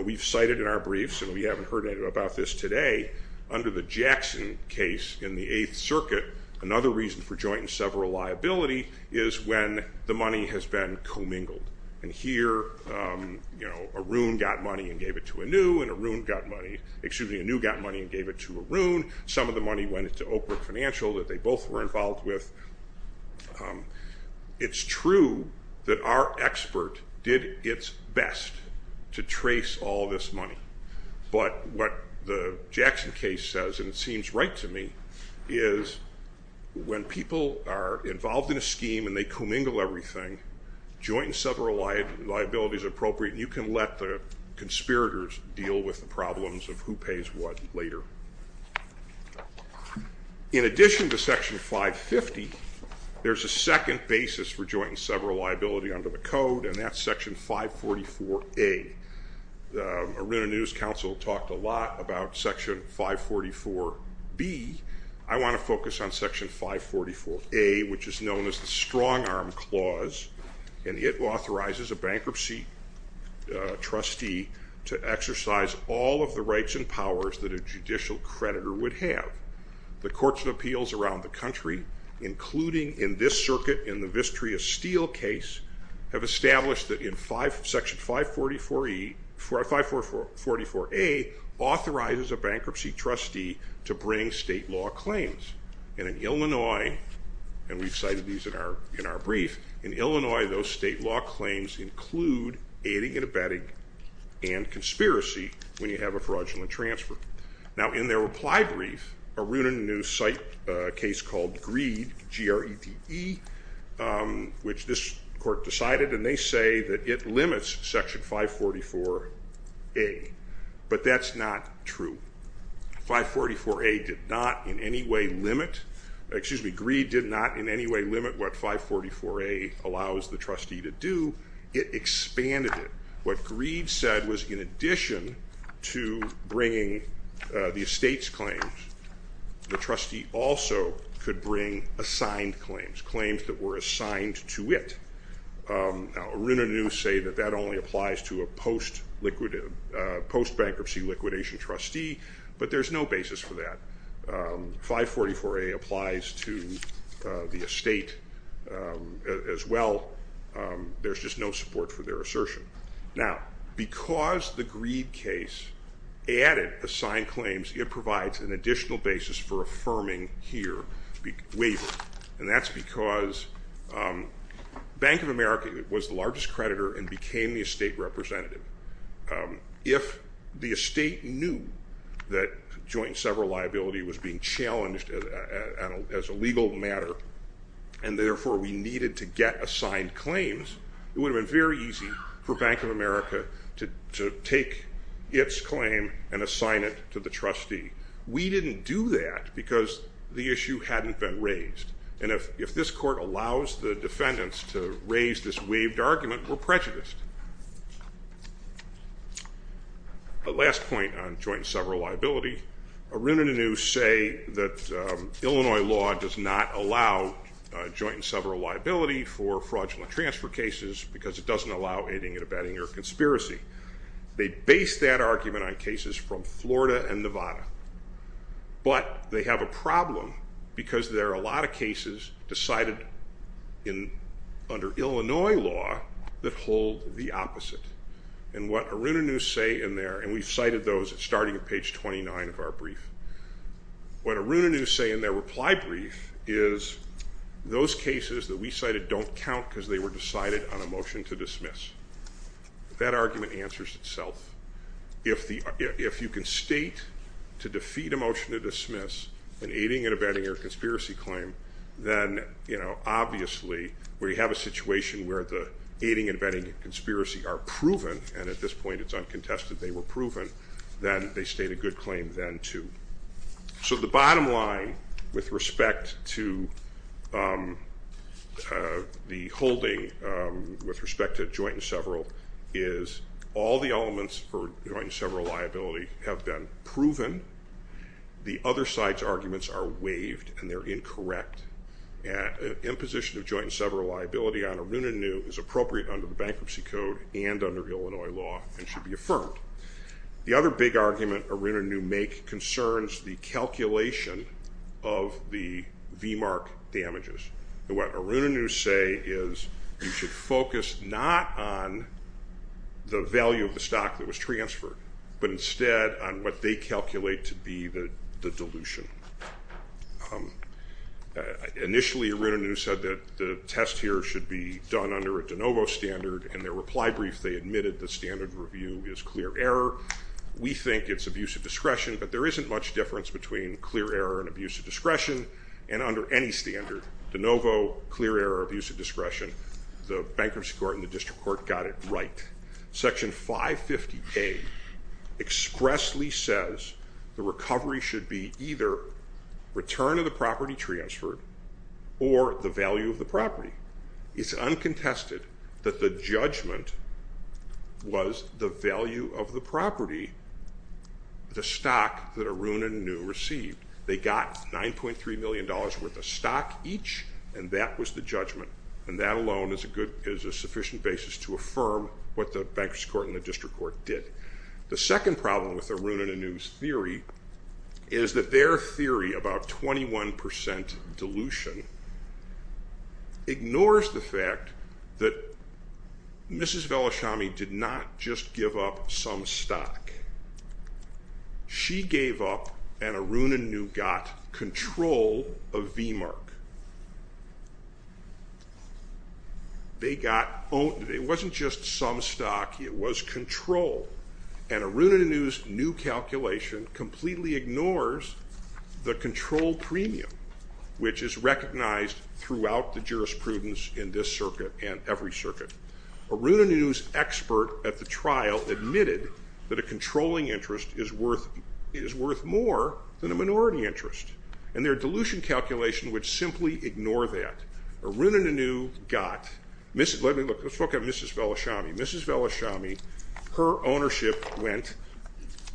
we've cited in our briefs, and we haven't heard about this today, under the Jackson case in the Eighth Circuit, another reason for joint and several liability is when the money has been commingled. And here, Arun got money and gave it to Anu, and Anu got money and gave it to Arun. Some of the money went into Oak Brook Financial that they both were involved with. It's true that our expert did its best to trace all this money, but what the Jackson case says, and it seems right to me, is when people are involved in a scheme and they commingle everything, joint and several liability is appropriate, and you can let the conspirators deal with the problems of who pays what later. In addition to Section 550, there's a second basis for joint and several liability under the Code, and that's Section 544A. Aruna News Council talked a lot about Section 544B. I want to focus on Section 544A, which is known as the Strongarm Clause, and it authorizes a bankruptcy trustee to exercise all of the rights and powers that a judicial creditor would have. The courts and appeals around the country, including in this circuit in the Vistria Steel case, have established that in Section 544A authorizes a bankruptcy trustee to bring state law claims. And in Illinois, and we've cited these in our brief, in Illinois those state law claims include aiding and abetting and conspiracy when you have a fraudulent transfer. Now in their reply brief, Aruna News cite a case called Greed, G-R-E-D-E, which this court decided and they say that it limits Section 544A, but that's not true. 544A did not in any way limit, excuse me, Greed did not in any way limit what 544A allows the trustee to do. It expanded it. What Greed said was in addition to bringing the estate's claims, the trustee also could bring assigned claims, claims that were assigned to it. Aruna News say that that only applies to a post-bankruptcy liquidation trustee, but there's no basis for that. 544A applies to the estate as well, there's just no support for their basis for affirming here the waiver. And that's because Bank of America was the largest creditor and became the estate representative. If the estate knew that joint and several liability was being challenged as a legal matter and therefore we needed to get assigned claims, it would have been very easy for Bank of America to take its claim and assign it to the trustee. We didn't do that because the issue hadn't been raised. And if this court allows the defendants to raise this waived argument, we're prejudiced. Last point on joint and several liability, Aruna News say that Illinois law does not allow joint and several liability for fraudulent transfer cases because it doesn't allow anything at a betting or conspiracy. They base that argument on cases from Florida and Nevada. But they have a problem because there are a lot of cases decided under Illinois law that hold the opposite. And what Aruna News say in there, and we've cited those starting at page 29 of our brief, what Aruna News say in their reply brief is those cases that we cited don't count because they were decided on a motion to dismiss. That argument answers itself. If you can state to defeat a motion to dismiss an aiding and abetting or a conspiracy claim, then, you know, obviously, where you have a situation where the aiding and abetting and conspiracy are proven, and at this point it's uncontested, they were proven, then they state a good claim then, too. So the bottom line with respect to the holding with respect to joint and several is all the elements for joint and several liability have been proven. The other side's arguments are waived and they're incorrect. Imposition of joint and several liability on Aruna News is appropriate under the Bankruptcy Code and under Illinois law and should be affirmed. The other big argument Aruna News make concerns the calculation of the VMARC damages. And what Aruna News say is you should focus not on the value of the stock that was transferred, but instead on what they calculate to be the dilution. Initially, Aruna News said that the test here should be done under a de novo standard. In their reply brief, they admitted the standard review is clear error. We think it's abuse of discretion, but there isn't much difference between clear error and abuse of discretion and under any standard. De novo, clear error, abuse of discretion. The Bankruptcy Court and the District Court, return of the property transferred, or the value of the property. It's uncontested that the judgment was the value of the property, the stock that Aruna News received. They got $9.3 million worth of stock each and that was the judgment. And that alone is a sufficient basis to affirm what the Bankruptcy Court and the District Court did. The second problem with Aruna News theory is that their theory about 21% dilution ignores the fact that Mrs. Velashami did not just give up some stock. She gave up and Aruna News got control of VMARC. It wasn't just some stock, it was control. And Aruna News' new calculation completely ignores the control premium, which is recognized throughout the jurisprudence in this circuit and every circuit. Aruna News expert at the trial admitted that a Aruna News got, let's look at Mrs. Velashami. Mrs. Velashami, her ownership went,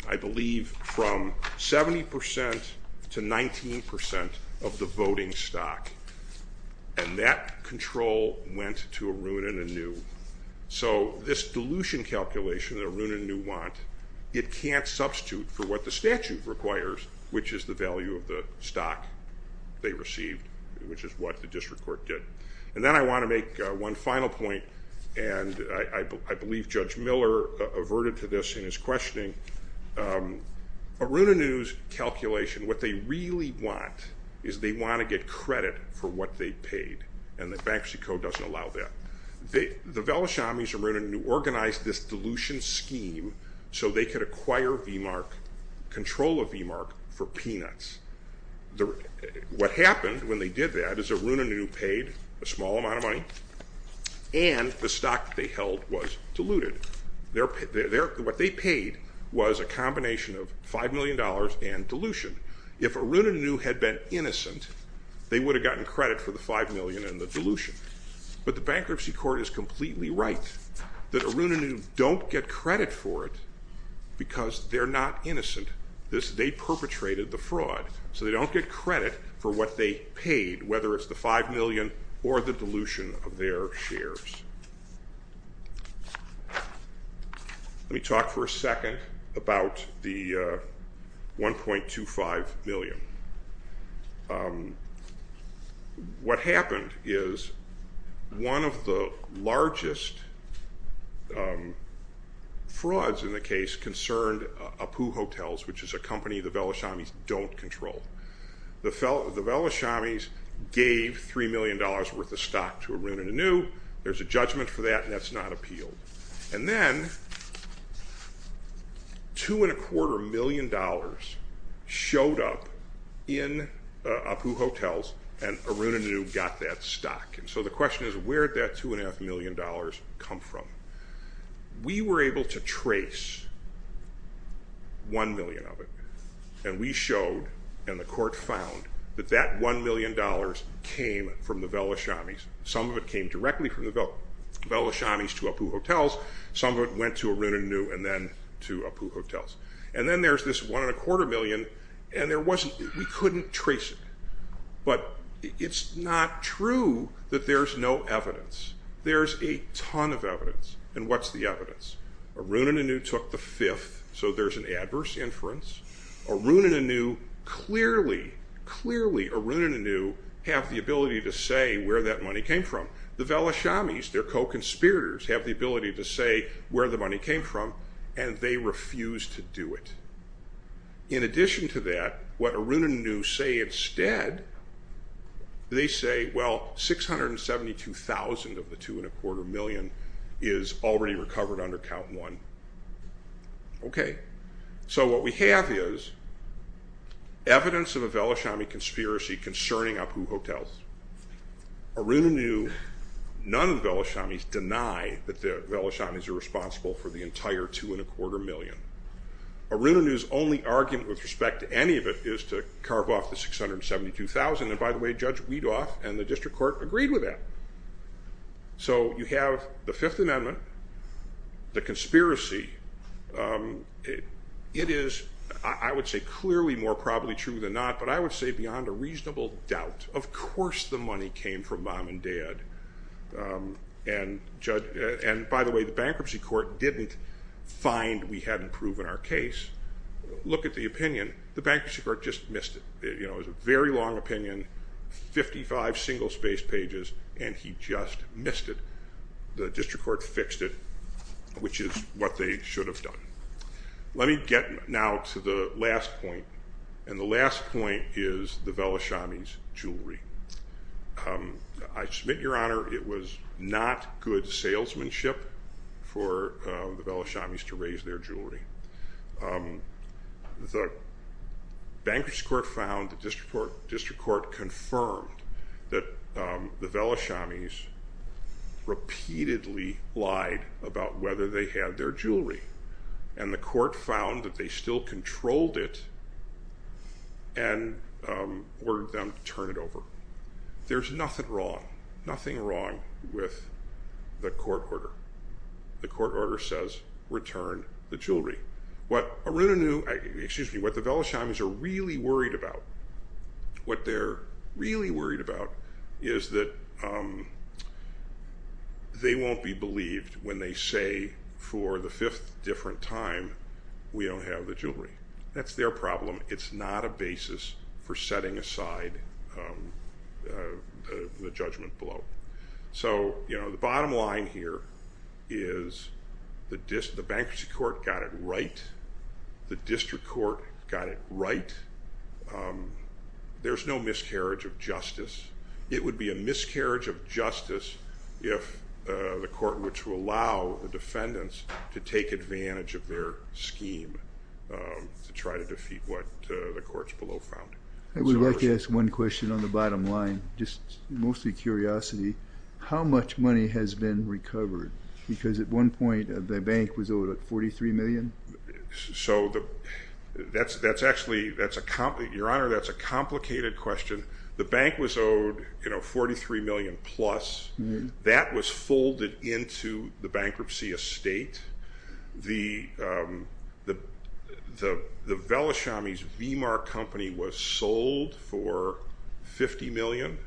I believe, from 70% to 19% of the voting stock. And that control went to Aruna News. So this dilution calculation that Aruna News want, it can't substitute for what the statute requires, which is the value of the stock they received, which is what the District Court did. And then I want to make one final point and I believe Judge Miller averted to this in his questioning. Aruna News' calculation, what they really want is they want to get credit for what they paid and the Bankruptcy Court doesn't allow that. The Velashamis, Aruna News organized this dilution scheme so they could acquire VMARC, control of VMARC for peanuts. What happened when they did that is Aruna News paid a small amount of money and the stock they held was diluted. What they paid was a combination of $5 million and dilution. If Aruna News had been innocent, they would have gotten credit for the $5 million and the dilution. But the Bankruptcy Court is completely right that Aruna News don't get credit for it because they're not innocent. They perpetrated the fraud. So they don't get credit for what they paid, whether it's the $5 million or the dilution of their shares. Let me talk for a second about the $1.25 million. What happened is one of the largest frauds in the case concerned Apu Hotels, which is a company the Velashamis don't control. The Velashamis gave $3 million worth of stock to Aruna News. There's a judgment for that and that's not appealed. And then $2.25 million showed up in Apu Hotels and Aruna News got that stock. So the question is where did that $2.25 million come from? We were able to trace $1 million of it and we showed and the court found that that $1 million came from the Velashamis. Some of it came directly from the Velashamis to Apu Hotels. Some of it went to Aruna News and then to Apu Hotels. And then there's this $1.25 million and we couldn't trace it. But it's not true that there's no evidence. There's a ton of evidence. And what's the evidence? Aruna News took the fifth, so there's an adverse inference. Aruna News clearly have the ability to say where that money came from. The Velashamis, their co-conspirators, have the ability to say where the money came from and they refused to do it. In addition to that, what Aruna News say instead, they say well $672,000 of the $2.25 million is already recovered under Count 1. Okay, so what we have is evidence of a Velashami conspiracy concerning Apu Hotels. Aruna News, none of the Velashamis deny that the Velashamis are responsible for the entire $2.25 million. Aruna News' only argument with respect to any of it is to carve off the $672,000 and by the way Judge Weedoff and the District Court agreed with that. So you have the Fifth Amendment, the conspiracy. It is, I would say clearly more probably true than not, but I would say beyond a reasonable doubt. Of course the money came from Mom and Dad. And by the way, the Bankruptcy Court didn't find we hadn't proven our case. Look at the opinion. The Bankruptcy Court just missed it. It was a very long opinion, 55 single space pages, and he just missed it. The District Court fixed it, which is what they should have done. Let me get now to the last point, and the last point is the Velashamis' jewelry. I submit, Your Honor, it was not good salesmanship for the Velashamis to raise their jewelry. The Bankruptcy Court found, the District Court confirmed that the Velashamis repeatedly lied about whether they had their jewelry, and the court found that they still controlled it and ordered them to turn it over. There's nothing wrong, nothing wrong with the court order. The court order says return the jewelry. What Arunanu, excuse me, what the Velashamis are really worried about, what they're really worried about is that they won't be believed when they say for the fifth different time we don't have the jewelry. That's their problem. It's not a basis for setting aside the judgment below. The bottom line here is the Bankruptcy Court got it right. The District Court got it right. There's no miscarriage of justice. It would be a miscarriage of justice if the court were to allow the defendants to take advantage of their scheme to try to defeat what the courts below found. I would like to ask one question on the bottom line, just mostly curiosity. How much money has been recovered? Because at one point the bank was owed $43 million. Your Honor, that's a complicated question. The bank was owed $43 million plus. That was folded into the bankruptcy estate. The Velashamis V-Mark Company was sold for $50 million.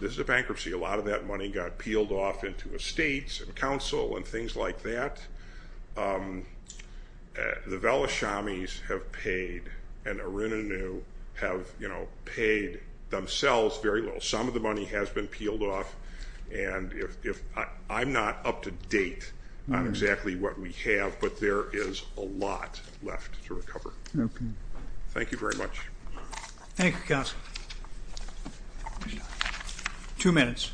This is a bankruptcy. A lot of that money got peeled off into estates and council and things like that. The Velashamis have paid and Arunanu have paid themselves very little. Some of the money has been peeled off. I'm not up to date on exactly what we have, but there is a lot left to recover. Thank you very much. Thank you, counsel. Two minutes.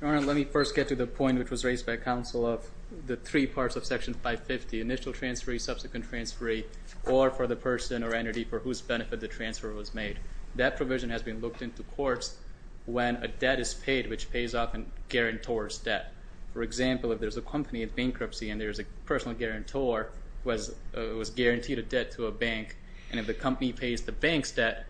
Your Honor, let me first get to the point which was raised by counsel of the three parts of Section 550, initial transfer, subsequent transfer, or for the person or entity for whose benefit the transfer was made. That provision has been looked into courts when a debt is paid which pays off a guarantor's debt. For example, if there's a company in bankruptcy and there's a personal guarantor who has guaranteed a debt to a bank, and if the company pays the bank's debt,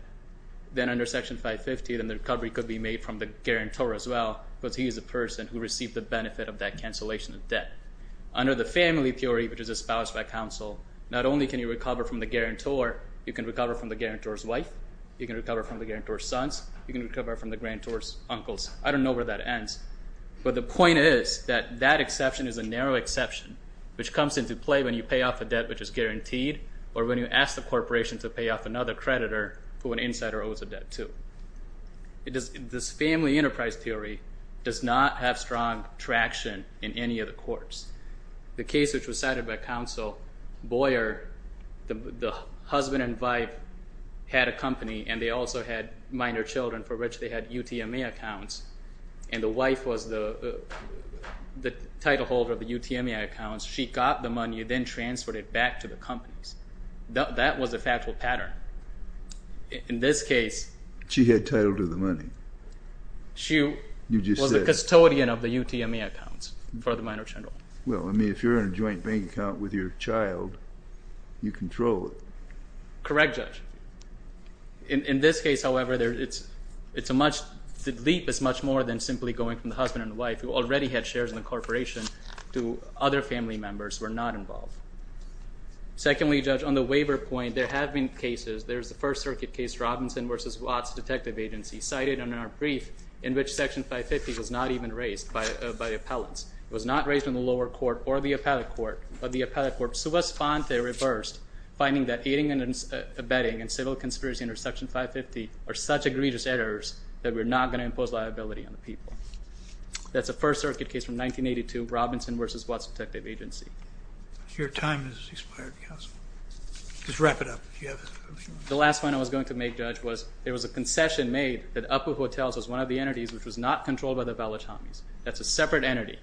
then under Section 550, then the recovery could be made from the guarantor as well because he is the person who received the benefit of that cancellation of debt. Under the family theory, which is espoused by counsel, not only can you recover from the guarantor, you can recover from the guarantor's wife, you can recover from the guarantor's sons, you can recover from the guarantor's uncles. I don't know where that ends, but the point is that that exception is a narrow exception which comes into play when you pay off a debt which is guaranteed or when you ask the corporation to pay off another creditor who an insider owes a debt to. This family enterprise theory does not have strong traction in any of the courts. The case which was cited by counsel, Boyer, the husband and wife had a company and they also had minor children for which they had UTMA accounts, and the wife was the title holder of the UTMA accounts. She got the money and then transferred it back to the companies. That was a factual pattern. In this case— She had title to the money. She was the custodian of the UTMA accounts for the minor children. Well, I mean, if you're in a joint bank account with your child, you control it. Correct, Judge. In this case, however, the leap is much more than simply going from the husband and wife who already had shares in the corporation to other family members who were not involved. Secondly, Judge, on the waiver point, there have been cases. There's the First Circuit case, Robinson v. Watts Detective Agency, cited in our brief in which Section 550 was not even raised by appellants. It was not raised in the lower court or the appellate court, but the appellate court, sua sponte, reversed, finding that aiding and abetting and civil conspiracy under Section 550 are such egregious errors that we're not going to impose liability on the people. That's the First Circuit case from 1982, Robinson v. Watts Detective Agency. Your time has expired, counsel. Just wrap it up. The last point I was going to make, Judge, was there was a concession made that Upwood Hotels was one of the entities which was not controlled by the Valachamis. That's a separate entity,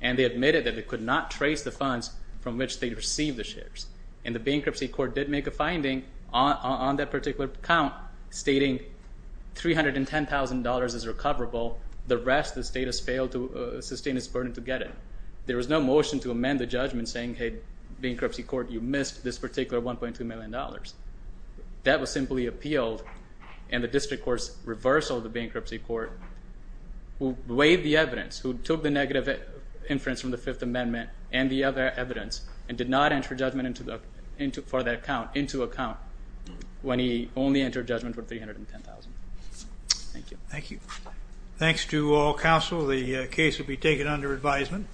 and they admitted that they could not trace the funds from which they received the shares. And the bankruptcy court did make a finding on that particular account stating $310,000 is recoverable. The rest, the state has failed to sustain its burden to get it. There was no motion to amend the judgment saying, hey, bankruptcy court, you missed this particular $1.2 million. That was simply appealed, and the district court's reversal of the bankruptcy court weighed the evidence, who took the negative inference from the Fifth Amendment and the other evidence, and did not enter judgment for that account into account when he only entered judgment for $310,000. Thank you. Thank you. Thanks to all counsel. The case will be taken under advisement.